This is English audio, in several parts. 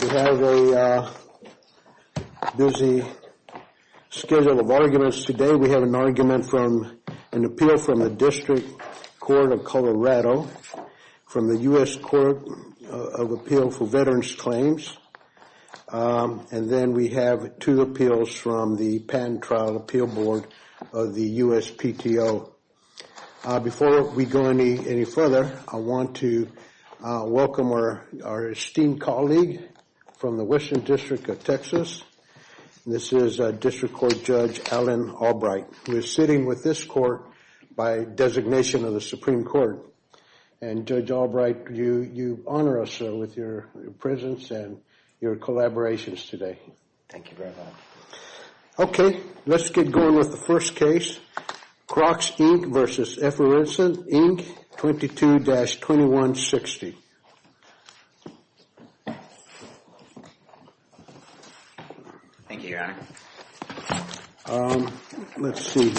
We have a busy schedule of arguments today. We have an argument from an appeal from the District Court of Colorado, from the U.S. Court of Appeal for Veterans Claims, and then we have two appeals from the Patent Trial Appeal Board of the USPTO. So, before we go any further, I want to welcome our esteemed colleague from the Western District of Texas. This is District Court Judge Allen Albright, who is sitting with this court by designation of the Supreme Court. And Judge Albright, you honor us with your presence and your collaborations today. Thank you very much. Okay. Let's get going with the first case. Crocs, Inc. v. Effervescent, Inc. 22-2160. Thank you, Your Honor. Let's see here.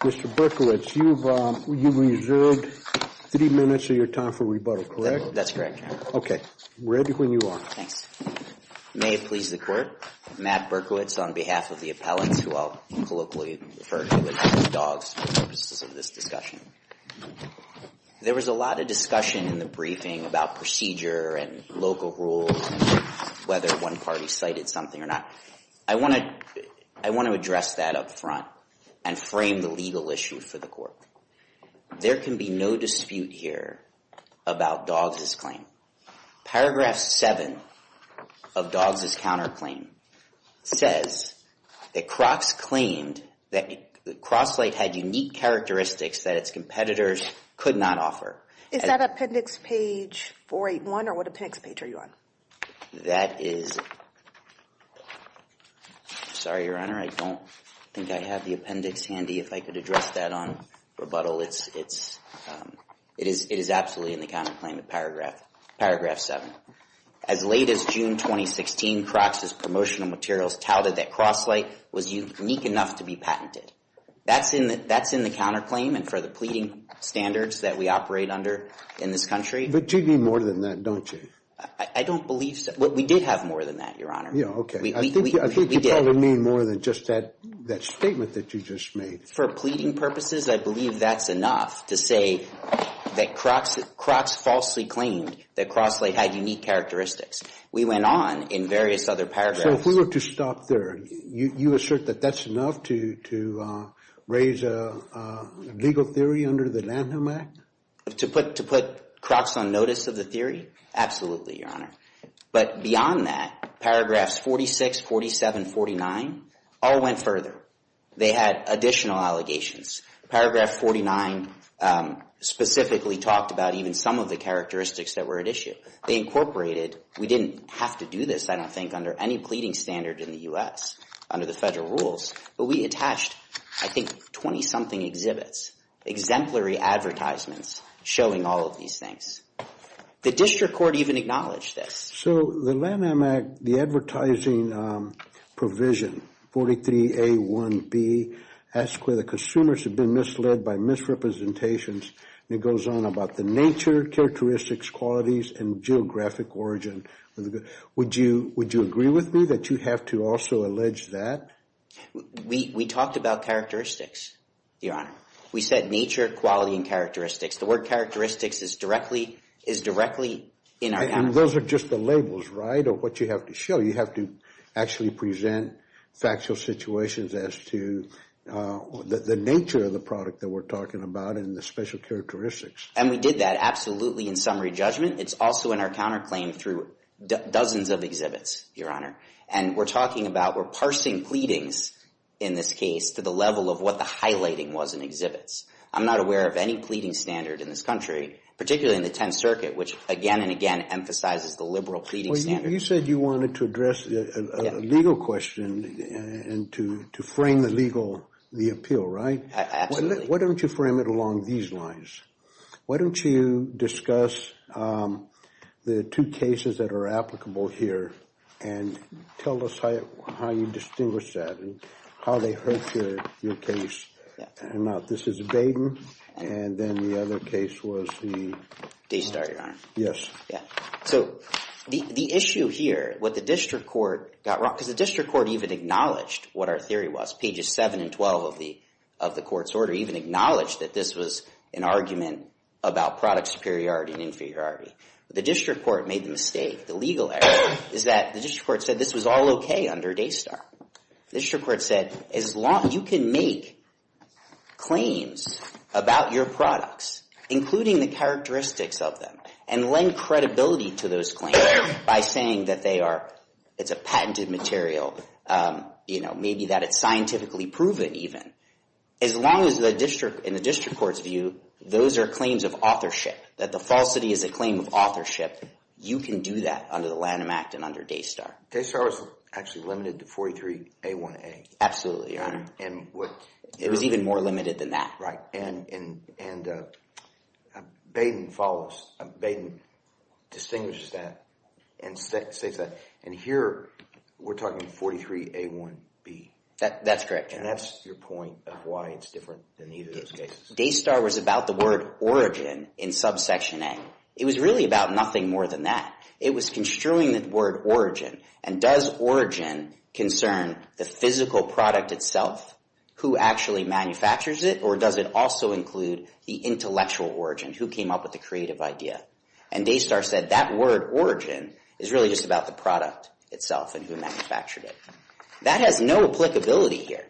Mr. Berkowitz, you reserved three minutes of your time for rebuttal, correct? That's correct, Your Honor. Okay. Ready when you are. Thanks. May it please the Court. Matt Berkowitz on behalf of the appellants who I'll colloquially refer to as dogs for the purposes of this discussion. There was a lot of discussion in the briefing about procedure and local rules and whether one party cited something or not. I want to address that up front and frame the legal issue for the court. There can be no dispute here about dogs' claim. Paragraph 7 of dogs' counterclaim says that Crocs claimed that Cross-Lite had unique characteristics that its competitors could not offer. Is that appendix page 481 or what appendix page are you on? That is – sorry, Your Honor, I don't think I have the appendix handy if I could address that on rebuttal. It is absolutely in the counterclaim of paragraph 7. As late as June 2016, Crocs' promotional materials touted that Cross-Lite was unique enough to be patented. That's in the counterclaim and for the pleading standards that we operate under in this country. But you need more than that, don't you? I don't believe so. We did have more than that, Your Honor. Yeah, okay. I think you probably mean more than just that statement that you just made. For pleading purposes, I believe that's enough to say that Crocs falsely claimed that Cross-Lite had unique characteristics. We went on in various other paragraphs. So if we were to stop there, you assert that that's enough to raise a legal theory under the Lanham Act? To put Crocs on notice of the theory? Absolutely, Your Honor. But beyond that, paragraphs 46, 47, 49 all went further. They had additional allegations. Paragraph 49 specifically talked about even some of the characteristics that were at issue. They incorporated. We didn't have to do this, I don't think, under any pleading standard in the U.S. under the federal rules. But we attached, I think, 20-something exhibits, exemplary advertisements showing all of these things. The district court even acknowledged this. So the Lanham Act, the advertising provision, 43A1B, asks whether consumers have been misled by misrepresentations, and it goes on about the nature, characteristics, qualities, and geographic origin. Would you agree with me that you have to also allege that? We talked about characteristics, Your Honor. We said nature, quality, and characteristics. The word characteristics is directly in our context. And those are just the labels, right, of what you have to show. You have to actually present factual situations as to the nature of the product that we're talking about and the special characteristics. And we did that absolutely in summary judgment. It's also in our counterclaim through dozens of exhibits, Your Honor. And we're talking about we're parsing pleadings in this case to the level of what the highlighting was in exhibits. I'm not aware of any pleading standard in this country, particularly in the Tenth Circuit, which again and again emphasizes the liberal pleading standard. You said you wanted to address a legal question and to frame the legal appeal, right? Absolutely. Why don't you frame it along these lines? Why don't you discuss the two cases that are applicable here and tell us how you distinguish that and how they hurt your case. This is Baden, and then the other case was the... Daystar, Your Honor. Yes. So the issue here, what the district court got wrong, because the district court even acknowledged what our theory was. Pages 7 and 12 of the court's order even acknowledged that this was an argument about product superiority and inferiority. The district court made the mistake, the legal error, is that the district court said this was all okay under Daystar. The district court said, you can make claims about your products, including the characteristics of them, and lend credibility to those claims by saying that it's a patented material, maybe that it's scientifically proven even. As long as in the district court's view, those are claims of authorship, that the falsity is a claim of authorship, you can do that under the Lanham Act and under Daystar. Daystar was actually limited to 43A1A. Absolutely, Your Honor. And what... It was even more limited than that. Right. And Baden follows, Baden distinguishes that and states that. And here we're talking 43A1B. That's correct, Your Honor. And that's your point of why it's different than either of those cases. Daystar was about the word origin in subsection A. It was really about nothing more than that. It was construing the word origin. And does origin concern the physical product itself, who actually manufactures it, or does it also include the intellectual origin, who came up with the creative idea? And Daystar said that word origin is really just about the product itself and who manufactured it. That has no applicability here.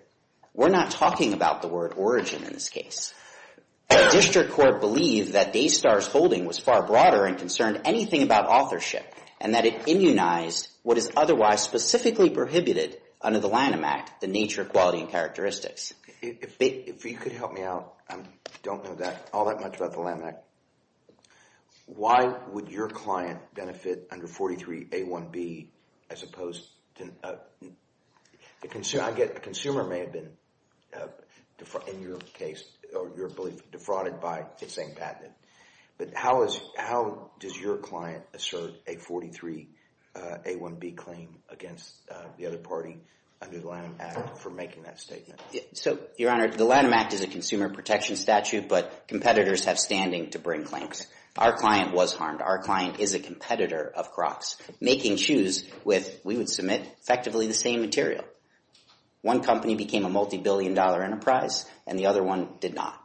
We're not talking about the word origin in this case. The district court believed that Daystar's holding was far broader and concerned anything about authorship and that it immunized what is otherwise specifically prohibited under the Lanham Act, the nature, quality, and characteristics. If you could help me out, I don't know all that much about the Lanham Act. Why would your client benefit under 43A1B as opposed to... I get the consumer may have been, in your case, or your belief, defrauded by it saying patented. But how does your client assert a 43A1B claim against the other party under the Lanham Act for making that statement? So, Your Honor, the Lanham Act is a consumer protection statute, but competitors have standing to bring claims. Our client was harmed. Our client is a competitor of Crocs, making shoes with, we would submit, effectively the same material. One company became a multibillion-dollar enterprise, and the other one did not.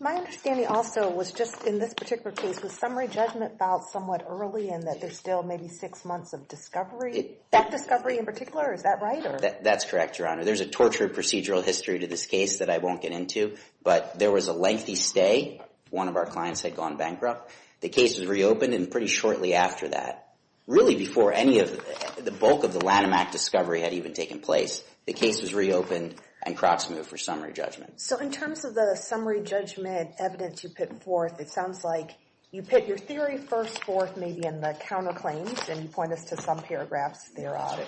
My understanding also was just in this particular case, the summary judgment filed somewhat early and that there's still maybe six months of discovery. That discovery in particular, is that right? That's correct, Your Honor. There's a tortured procedural history to this case that I won't get into, but there was a lengthy stay. One of our clients had gone bankrupt. The case was reopened and pretty shortly after that, really before any of the bulk of the Lanham Act discovery had even taken place, the case was reopened and Crocs moved for summary judgment. So, in terms of the summary judgment evidence you put forth, it sounds like you put your theory first, fourth, maybe in the counterclaims, and you point us to some paragraphs thereof.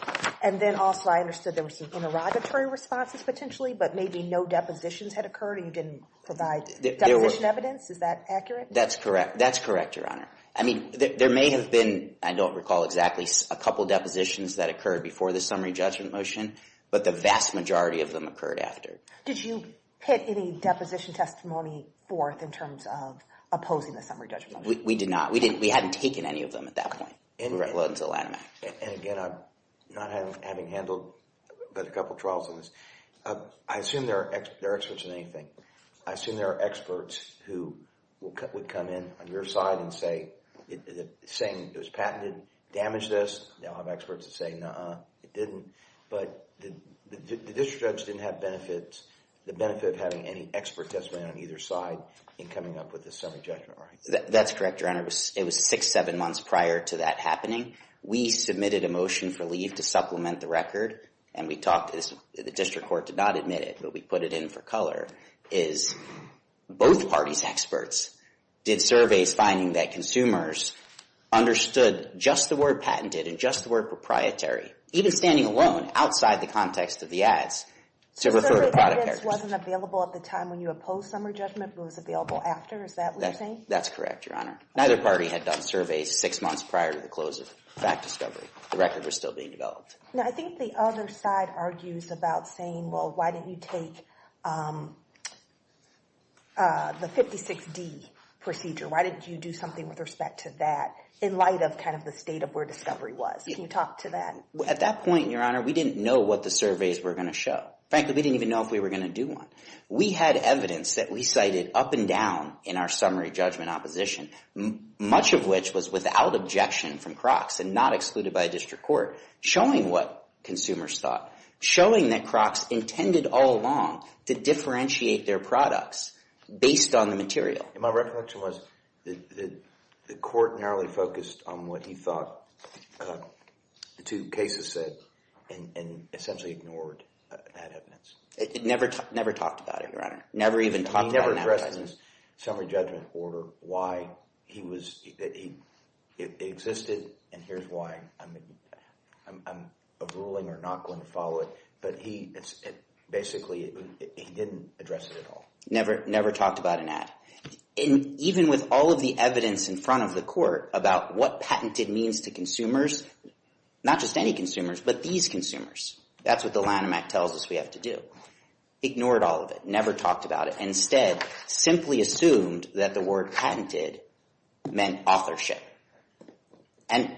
And then also I understood there were some interrogatory responses potentially, but maybe no depositions had occurred and you didn't provide deposition evidence. Is that accurate? That's correct. That's correct, Your Honor. I mean, there may have been, I don't recall exactly, a couple depositions that occurred before the summary judgment motion, but the vast majority of them occurred after. Did you hit any deposition testimony fourth in terms of opposing the summary judgment motion? We did not. We hadn't taken any of them at that point in relation to the Lanham Act. And again, not having handled a couple of trials on this, I assume there are experts in anything. I assume there are experts who would come in on your side and say, saying it was patented, damaged this. They'll have experts that say, no, it didn't. But the district judge didn't have benefits, the benefit of having any expert testimony on either side in coming up with the summary judgment rights. That's correct, Your Honor. It was six, seven months prior to that happening. We submitted a motion for leave to supplement the record and we talked, the district court did not admit it, but we put it in for color, is both parties' experts did surveys finding that consumers understood just the word patented and just the word proprietary. Even standing alone, outside the context of the ads, to refer to product characters. So the evidence wasn't available at the time when you opposed summary judgment but it was available after, is that what you're saying? That's correct, Your Honor. Neither party had done surveys six months prior to the close of fact discovery. The record was still being developed. Now, I think the other side argues about saying, well, why didn't you take the 56D procedure? Why didn't you do something with respect to that in light of kind of the state of where discovery was? Can you talk to that? At that point, Your Honor, we didn't know what the surveys were going to show. Frankly, we didn't even know if we were going to do one. We had evidence that we cited up and down in our summary judgment opposition, much of which was without objection from Crocs and not excluded by a district court, showing what consumers thought, showing that Crocs intended all along to differentiate their products based on the material. My recollection was the court narrowly focused on what he thought the two cases said and essentially ignored that evidence. It never talked about it, Your Honor. It never even talked about it. It never addressed in its summary judgment order why it existed and here's why I'm ruling or not going to follow it. But basically, he didn't address it at all. Never talked about an ad. And even with all of the evidence in front of the court about what patented means to consumers, not just any consumers, but these consumers, that's what the Lanham Act tells us we have to do. Ignored all of it. Never talked about it. Instead, simply assumed that the word patented meant authorship. And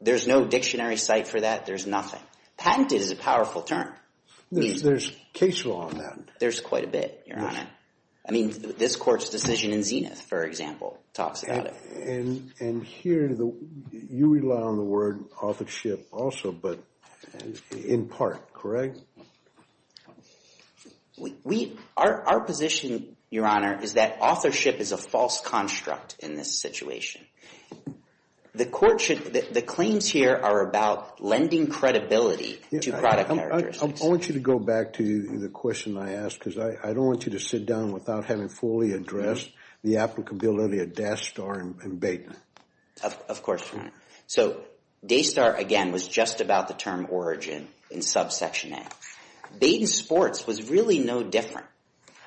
there's no dictionary site for that. There's nothing. Patented is a powerful term. There's case law on that. There's quite a bit, Your Honor. I mean, this court's decision in Zenith, for example, talks about it. And here you rely on the word authorship also, but in part, correct? Our position, Your Honor, is that authorship is a false construct in this situation. The claims here are about lending credibility to product characteristics. I want you to go back to the question I asked, because I don't want you to sit down without having fully addressed the applicability of DASTAR and BAYTON. Of course, Your Honor. So DASTAR, again, was just about the term origin in subsection A. BAYTON Sports was really no different,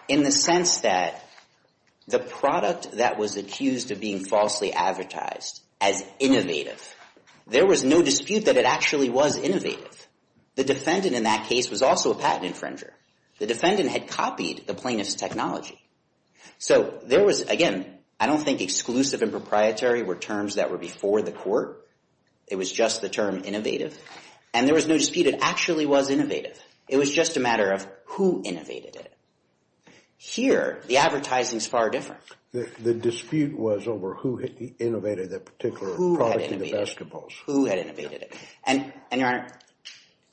in the sense that the product that was accused of being falsely advertised as innovative, there was no dispute that it actually was innovative. The defendant in that case was also a patent infringer. The defendant had copied the plaintiff's technology. So there was, again, I don't think exclusive and proprietary were terms that were before the court. It was just the term innovative. And there was no dispute it actually was innovative. It was just a matter of who innovated it. Here, the advertising is far different. The dispute was over who innovated that particular product in the basketballs. Who had innovated it. And, Your Honor,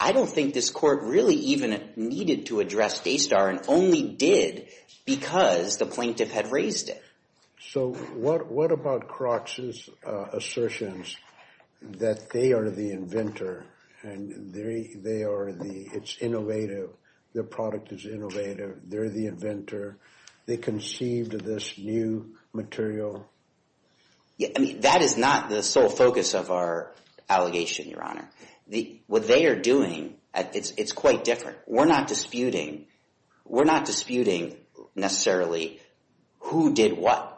I don't think this court really even needed to address DASTAR and only did because the plaintiff had raised it. So what about Crocks's assertions that they are the inventor, and it's innovative, the product is innovative, they're the inventor, they conceived this new material? That is not the sole focus of our allegation, Your Honor. What they are doing, it's quite different. We're not disputing necessarily who did what.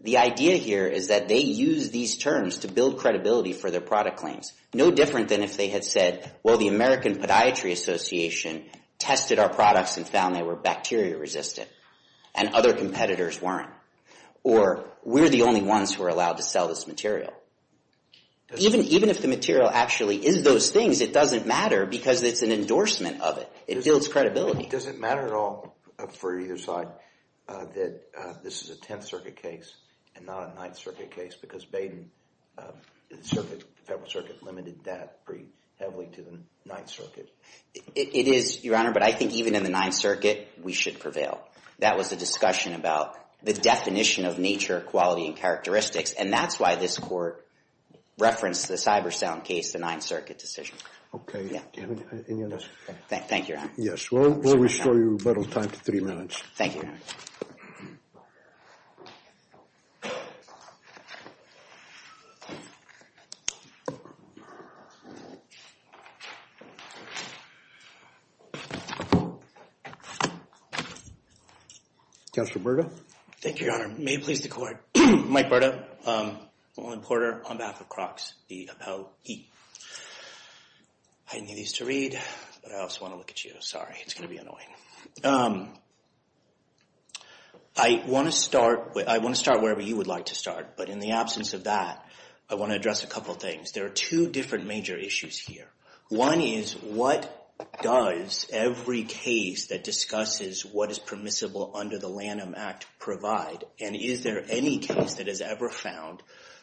The idea here is that they used these terms to build credibility for their product claims. No different than if they had said, well, the American Podiatry Association tested our products and found they were bacteria resistant, and other competitors weren't. Or, we're the only ones who are allowed to sell this material. Even if the material actually is those things, it doesn't matter because it's an endorsement of it. It builds credibility. It doesn't matter at all for either side that this is a Tenth Circuit case and not a Ninth Circuit case because the Federal Circuit limited that pretty heavily to the Ninth Circuit. It is, Your Honor, but I think even in the Ninth Circuit, we should prevail. That was a discussion about the definition of nature, quality, and characteristics, and that's why this court referenced the CyberSound case, the Ninth Circuit decision. Okay. Do you have anything else? Thank you, Your Honor. Yes. We'll restore your rebuttal time to three minutes. Thank you, Your Honor. Counsel Berta? Thank you, Your Honor. May it please the Court. Mike Berta, Law Enforcer, on behalf of Crocs, B-L-E. I need these to read, but I also want to look at you. Sorry, it's going to be annoying. I want to start wherever you would like to start, but in the absence of that, I want to address a couple of things. There are two different major issues here. One is what does every case that discusses what is permissible under the Lanham Act provide, and is there any case that has ever found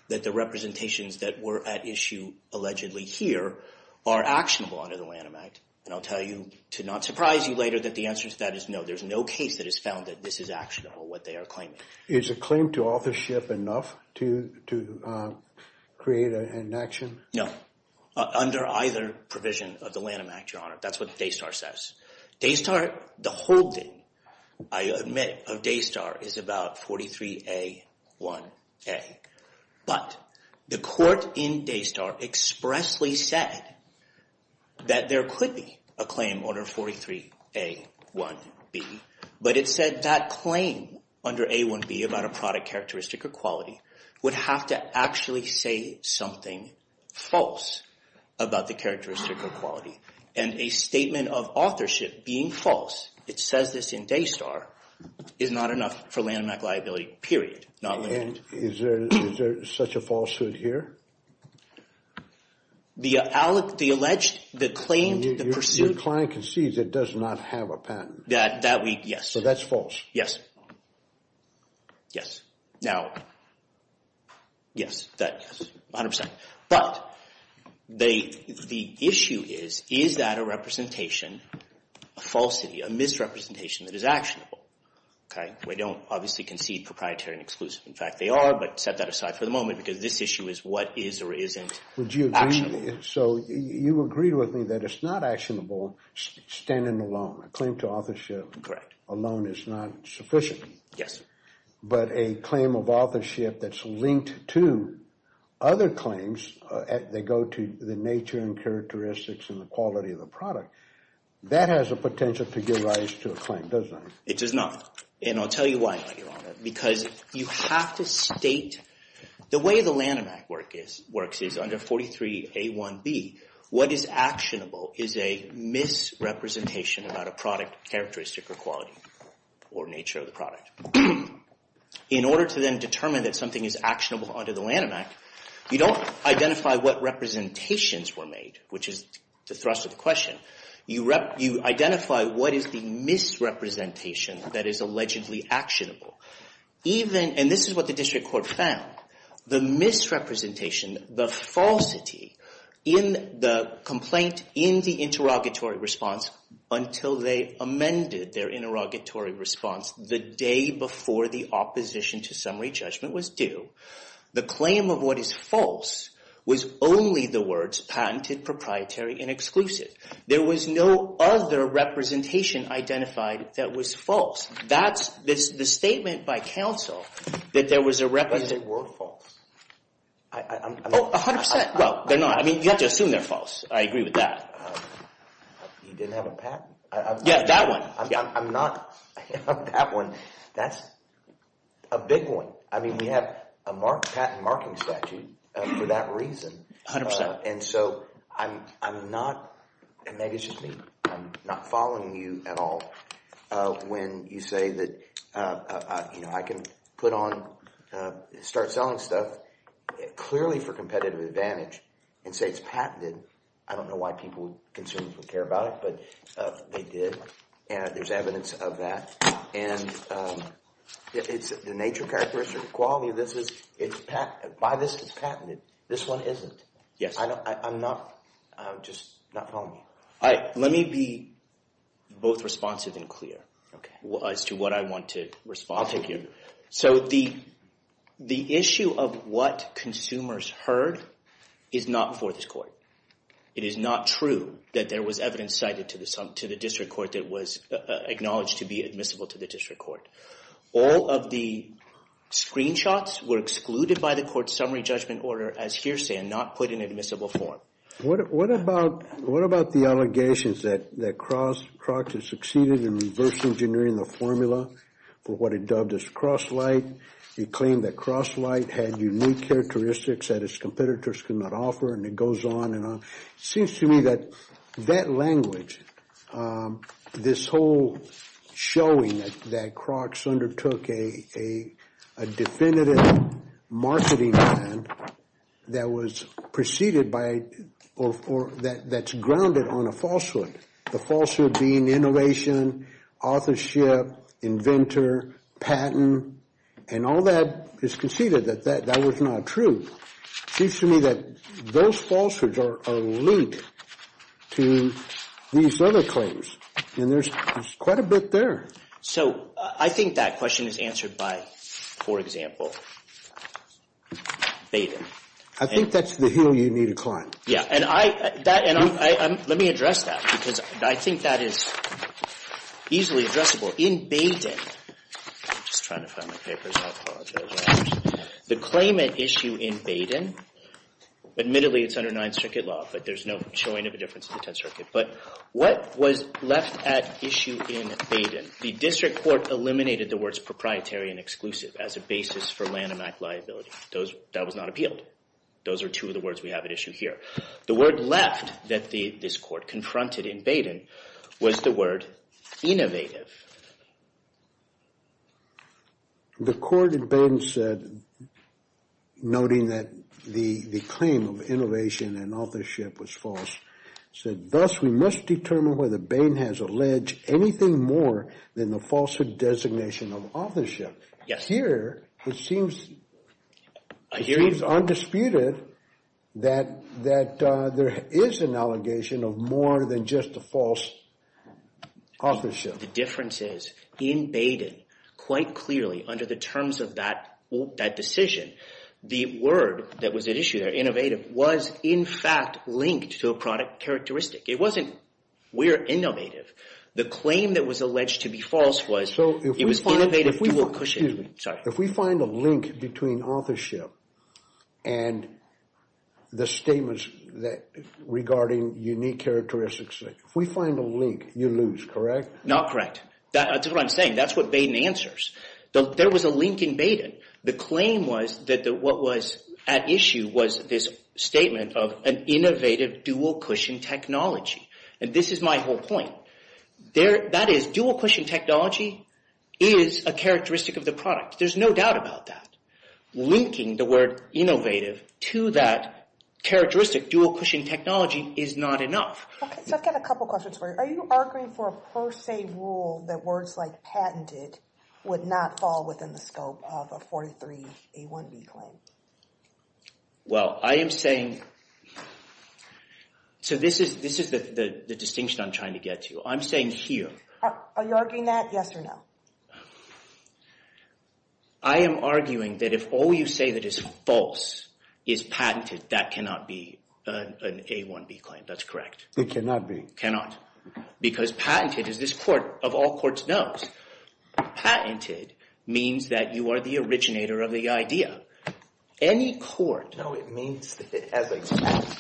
that the representations that were at issue allegedly here are actionable under the Lanham Act? And I'll tell you, to not surprise you later, that the answer to that is no. There's no case that has found that this is actionable, what they are claiming. Is a claim to authorship enough to create an action? No. Under either provision of the Lanham Act, Your Honor. That's what Daystar says. Daystar, the holding, I admit, of Daystar is about 43A1A. But the court in Daystar expressly said that there could be a claim under 43A1B, but it said that claim under A1B about a product characteristic or quality would have to actually say something false about the characteristic or quality. And a statement of authorship being false, it says this in Daystar, is not enough for Lanham Act liability, period. Is there such a falsehood here? The alleged, the claimed, the pursued. Your client concedes it does not have a patent. That we, yes. So that's false. Yes. Yes. Now, yes, 100%. But the issue is, is that a representation, a falsity, a misrepresentation that is actionable? We don't obviously concede proprietary and exclusive. In fact, they are, but set that aside for the moment because this issue is what is or isn't actionable. So you agreed with me that it's not actionable standing alone. A claim to authorship alone is not sufficient. Yes. But a claim of authorship that's linked to other claims, they go to the nature and characteristics and the quality of the product, that has a potential to give rise to a claim, doesn't it? It does not. And I'll tell you why, Your Honor, because you have to state, the way the Lanham Act works is under 43A1B, what is actionable is a misrepresentation about a product characteristic or quality or nature of the product. In order to then determine that something is actionable under the Lanham Act, you don't identify what representations were made, which is the thrust of the question. You identify what is the misrepresentation that is allegedly actionable. And this is what the district court found. The misrepresentation, the falsity in the complaint, in the interrogatory response until they amended their interrogatory response the day before the opposition to summary judgment was due, the claim of what is false was only the words patented, proprietary, and exclusive. There was no other representation identified that was false. That's the statement by counsel that there was a representation. But they were false. Oh, 100%. Well, they're not. I mean, you have to assume they're false. I agree with that. You didn't have a patent? Yeah, that one. I'm not on that one. That's a big one. I mean, we have a patent marking statute for that reason. 100%. And so I'm not, and maybe it's just me, I'm not following you at all when you say that, you know, I can put on, start selling stuff clearly for competitive advantage and say it's patented. I don't know why people would concern or care about it, but they did. And there's evidence of that. And it's the nature, characteristics, or quality of this is, by this it's patented. This one isn't. Yes. I'm not, I'm just not following you. Let me be both responsive and clear as to what I want to respond to here. So the issue of what consumers heard is not for this court. It is not true that there was evidence cited to the district court that was acknowledged to be admissible to the district court. All of the screenshots were excluded by the court's summary judgment order as hearsay and not put in admissible form. What about the allegations that Crocs has succeeded in reverse engineering the formula for what it dubbed as Cross-Lite? It claimed that Cross-Lite had unique characteristics that its competitors could not offer, and it goes on and on. It seems to me that that language, this whole showing that Crocs undertook a definitive marketing plan that was preceded by or that's grounded on a falsehood, the falsehood being innovation, authorship, inventor, patent, and all that is conceded that that was not true. It seems to me that those falsehoods are a leak to these other claims, and there's quite a bit there. So I think that question is answered by, for example, Baden. I think that's the hill you need to climb. Yeah, and let me address that because I think that is easily addressable. In Baden, I'm just trying to find my papers. The claimant issue in Baden, admittedly, it's under Ninth Circuit law, but there's no showing of a difference in the Tenth Circuit. But what was left at issue in Baden? The district court eliminated the words proprietary and exclusive as a basis for Lanham Act liability. That was not appealed. Those are two of the words we have at issue here. The word left that this court confronted in Baden was the word innovative. The court in Baden said, noting that the claim of innovation and authorship was false, said thus we must determine whether Bain has alleged anything more than the falsehood designation of authorship. Yes. Here, it seems undisputed that there is an allegation of more than just the false authorship. The difference is in Baden, quite clearly under the terms of that decision, the word that was at issue there, innovative, was in fact linked to a product characteristic. It wasn't we're innovative. The claim that was alleged to be false was it was innovative If we find a link between authorship and the statements regarding unique characteristics, if we find a link, you lose, correct? Not correct. That's what I'm saying. That's what Baden answers. There was a link in Baden. The claim was that what was at issue was this statement of an innovative dual cushion technology. And this is my whole point. That is, dual cushion technology is a characteristic of the product. There's no doubt about that. Linking the word innovative to that characteristic dual cushion technology is not enough. Okay, so I've got a couple questions for you. Are you arguing for a per se rule that words like patented would not fall within the scope of a 43A1B claim? Well, I am saying, so this is the distinction I'm trying to get to. I'm saying here. Are you arguing that? Yes or no? I am arguing that if all you say that is false is patented, that cannot be an A1B claim. That's correct. It cannot be. Cannot. Because patented, as this court of all courts knows, patented means that you are the originator of the idea. Any court – No, it means that it has a patent.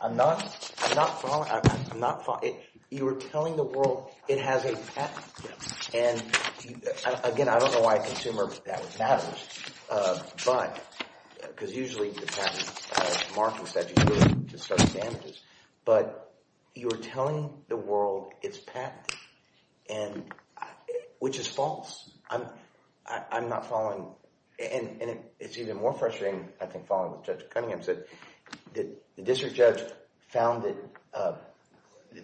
I'm not following. I'm not following. You are telling the world it has a patent. And, again, I don't know why a consumer would think that would matter. But – because usually the patent has markings that you use to study damages. But you are telling the world it's patented, which is false. I'm not following. And it's even more frustrating, I think, following what Judge Cunningham said. The district judge found that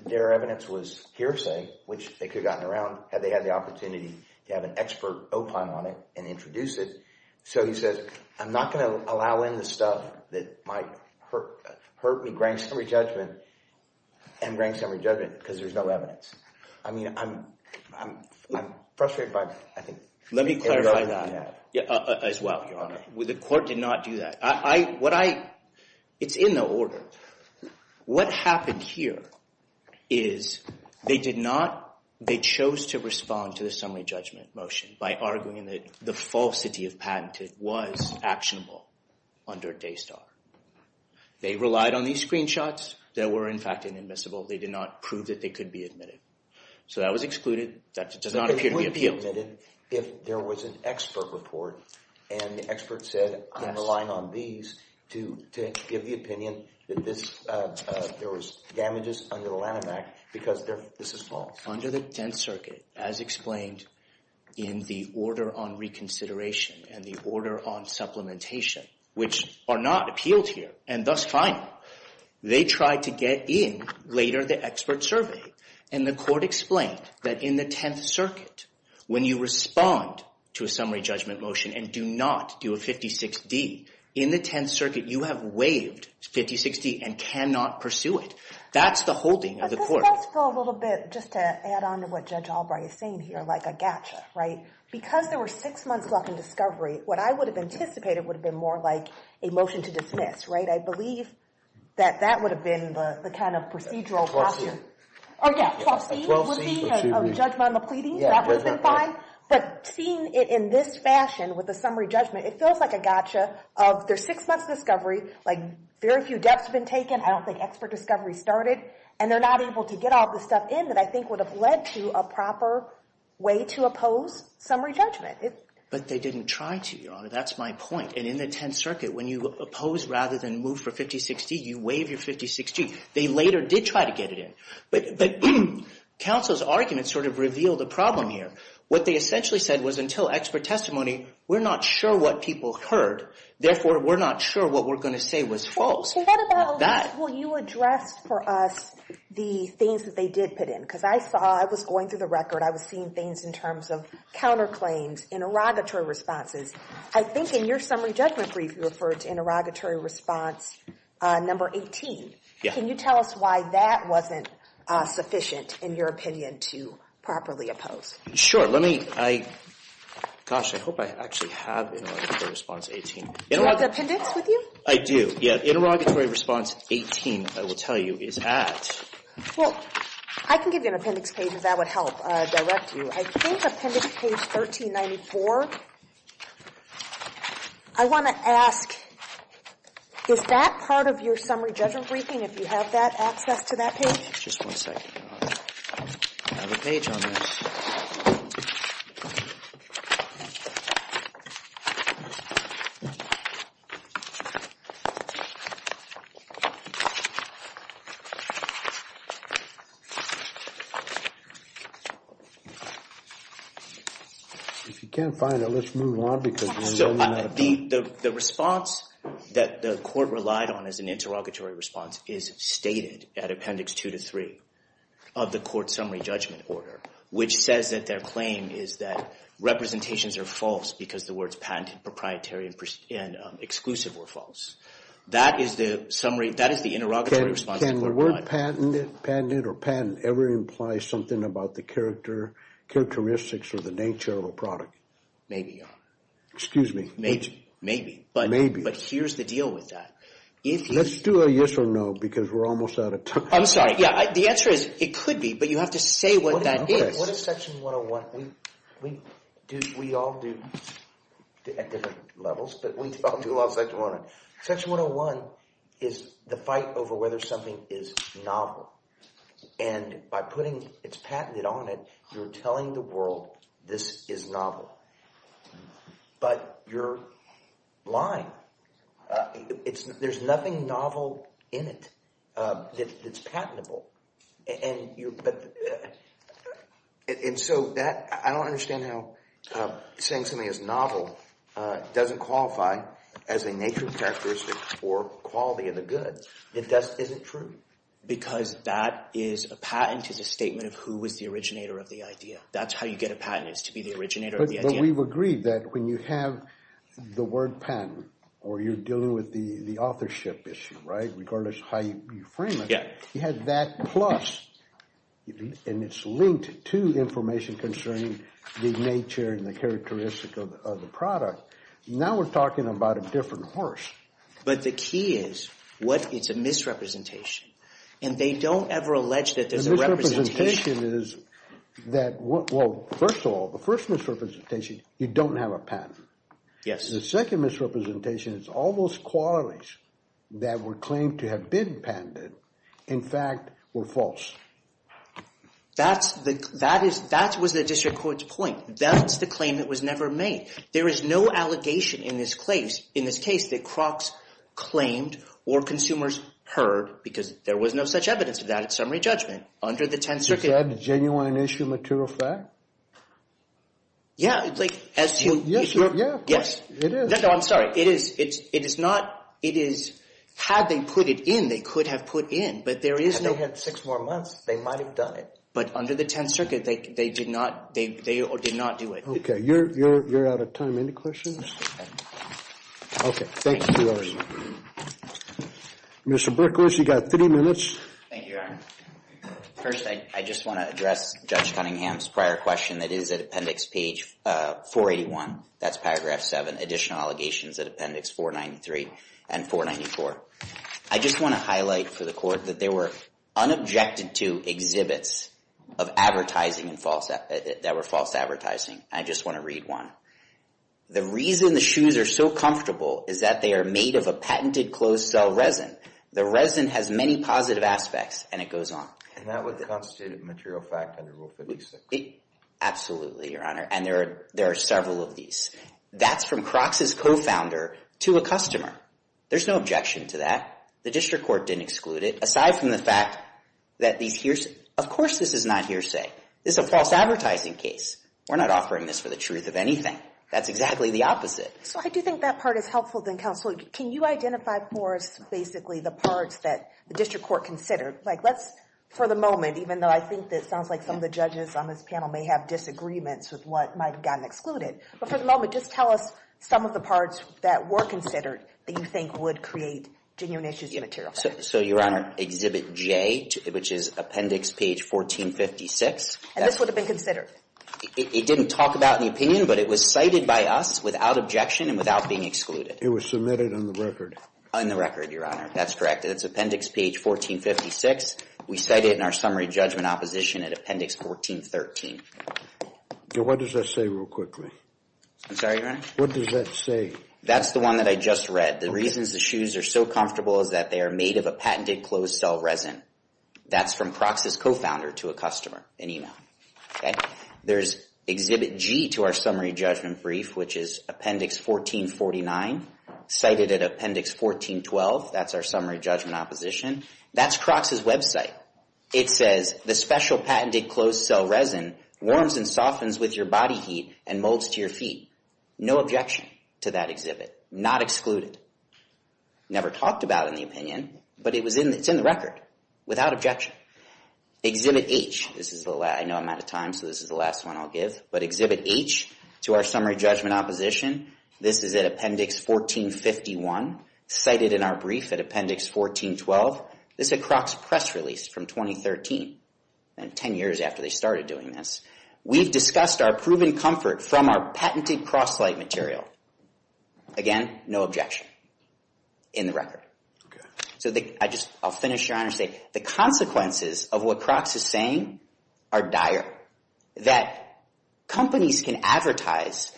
their evidence was hearsay, which they could have gotten around had they had the opportunity to have an expert opine on it and introduce it. So he says, I'm not going to allow in the stuff that might hurt me, grant me summary judgment and grant me summary judgment because there's no evidence. I mean I'm frustrated by – Let me clarify that. As well, Your Honor. The court did not do that. What I – it's in the order. What happened here is they did not – they chose to respond to the summary judgment motion by arguing that the falsity of patented was actionable under Daystar. They relied on these screenshots that were, in fact, inadmissible. They did not prove that they could be admitted. So that was excluded. That does not appear to be appealed. If there was an expert report and the expert said, I'm relying on these to give the opinion that this – there was damages under the Lanham Act because this is false. Under the Tenth Circuit, as explained in the order on reconsideration and the order on supplementation, which are not appealed here and thus final, they tried to get in later the expert survey. And the court explained that in the Tenth Circuit, when you respond to a summary judgment motion and do not do a 56-D, in the Tenth Circuit, you have waived 56-D and cannot pursue it. That's the holding of the court. This does feel a little bit, just to add on to what Judge Albright is saying here, like a gotcha, right? Because there were six months left in discovery, what I would have anticipated would have been more like a motion to dismiss, right? I believe that that would have been the kind of procedural option. Oh, yeah. A 12-C would be a judgment on the pleading. That would have been fine. But seeing it in this fashion with a summary judgment, it feels like a gotcha of there's six months of discovery, like very few deaths have been taken. I don't think expert discovery started. And they're not able to get all the stuff in that I think would have led to a proper way to oppose summary judgment. But they didn't try to, Your Honor. That's my point. And in the Tenth Circuit, when you oppose rather than move for 56-D, you waive your 56-D. They later did try to get it in. But counsel's argument sort of revealed a problem here. What they essentially said was until expert testimony, we're not sure what people heard. Therefore, we're not sure what we're going to say was false. So what about that? Well, you addressed for us the things that they did put in. Because I saw, I was going through the record. I was seeing things in terms of counterclaims, interrogatory responses. I think in your summary judgment brief, you referred to interrogatory response number 18. Can you tell us why that wasn't sufficient, in your opinion, to properly oppose? Sure. Let me, I, gosh, I hope I actually have interrogatory response 18. Do you have the appendix with you? I do. Yeah, interrogatory response 18, I will tell you, is at. Well, I can give you an appendix page if that would help direct you. I think appendix page 1394. I want to ask, is that part of your summary judgment briefing, if you have that access to that page? Just one second. I have a page on this. If you can't find it, let's move on because we're running out of time. The response that the court relied on as an interrogatory response is stated at appendix 2 to 3 of the court summary judgment order, which says that their claim is that representations are false because the words patented, proprietary, and exclusive were false. That is the summary, that is the interrogatory response. Can the word patented or patent ever imply something about the character, characteristics or the nature of a product? Maybe. Excuse me. Maybe. Maybe. Maybe. But here's the deal with that. Let's do a yes or no because we're almost out of time. I'm sorry. The answer is it could be, but you have to say what that is. What is section 101? We all do at different levels, but we all do a lot of section 101. Section 101 is the fight over whether something is novel. And by putting it's patented on it, you're telling the world this is novel. But you're lying. There's nothing novel in it that's patentable. And so I don't understand how saying something is novel doesn't qualify as a nature, characteristic, or quality of the goods. That just isn't true. Because that is a patent is a statement of who was the originator of the idea. That's how you get a patent is to be the originator of the idea. We've agreed that when you have the word patent or you're dealing with the authorship issue, regardless of how you frame it, you have that plus. And it's linked to information concerning the nature and the characteristic of the product. Now we're talking about a different horse. But the key is it's a misrepresentation. And they don't ever allege that there's a representation. Well, first of all, the first misrepresentation, you don't have a patent. The second misrepresentation is all those qualities that were claimed to have been patented, in fact, were false. That was the district court's point. That's the claim that was never made. There is no allegation in this case that Crocs claimed or consumers heard, because there was no such evidence of that at summary judgment under the Tenth Circuit. Is that a genuine issue material fact? Yeah. Yes, it is. No, I'm sorry. It is. It is not. It is. Had they put it in, they could have put in. But there is no. Had they had six more months, they might have done it. But under the Tenth Circuit, they did not do it. Okay. You're out of time. Any questions? Okay. Thank you. Mr. Berkowitz, you've got three minutes. Thank you, Your Honor. First, I just want to address Judge Cunningham's prior question that is at Appendix 481. That's Paragraph 7, Additional Allegations at Appendix 493 and 494. I just want to highlight for the Court that there were unobjected to exhibits of advertising that were false advertising. I just want to read one. The reason the shoes are so comfortable is that they are made of a patented closed-cell resin. The resin has many positive aspects, and it goes on. And that would constitute a material fact under Rule 56? Absolutely, Your Honor, and there are several of these. That's from Crocs' co-founder to a customer. There's no objection to that. The District Court didn't exclude it. Aside from the fact that these hearsay—of course this is not hearsay. This is a false advertising case. We're not offering this for the truth of anything. That's exactly the opposite. So I do think that part is helpful, then, Counselor. Can you identify for us basically the parts that the District Court considered? Like let's, for the moment, even though I think it sounds like some of the judges on this panel may have disagreements with what might have gotten excluded. But for the moment, just tell us some of the parts that were considered that you think would create genuine issues of material fact. So, Your Honor, Exhibit J, which is Appendix Page 1456. And this would have been considered? It didn't talk about in the opinion, but it was cited by us without objection and without being excluded. It was submitted on the record? On the record, Your Honor. That's correct. It's Appendix Page 1456. We cite it in our summary judgment opposition at Appendix 1413. What does that say real quickly? I'm sorry, Your Honor? What does that say? That's the one that I just read. The reasons the shoes are so comfortable is that they are made of a patented closed-cell resin. That's from Crocs' co-founder to a customer in email. There's Exhibit G to our summary judgment brief, which is Appendix 1449, cited at Appendix 1412. That's our summary judgment opposition. That's Crocs' website. It says, the special patented closed-cell resin warms and softens with your body heat and molds to your feet. No objection to that exhibit. Not excluded. Never talked about in the opinion, but it's in the record without objection. Exhibit H. I know I'm out of time, so this is the last one I'll give. Exhibit H to our summary judgment opposition. This is at Appendix 1451, cited in our brief at Appendix 1412. This is a Crocs press release from 2013, 10 years after they started doing this. We've discussed our proven comfort from our patented cross-slide material. Again, no objection. In the record. I'll finish, Your Honor, and say the consequences of what Crocs is saying are dire. That companies can advertise,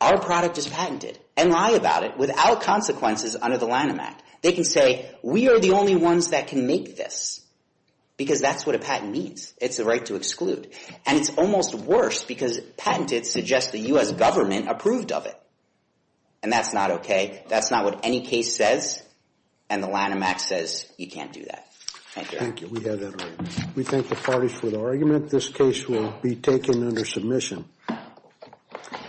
our product is patented, and lie about it without consequences under the Lanham Act. They can say, we are the only ones that can make this. Because that's what a patent means. It's the right to exclude. And it's almost worse because patented suggests the U.S. government approved of it. And that's not okay. That's not what any case says. And the Lanham Act says you can't do that. Thank you. Thank you. We have that right. We thank the parties for the argument. This case will be taken under submission.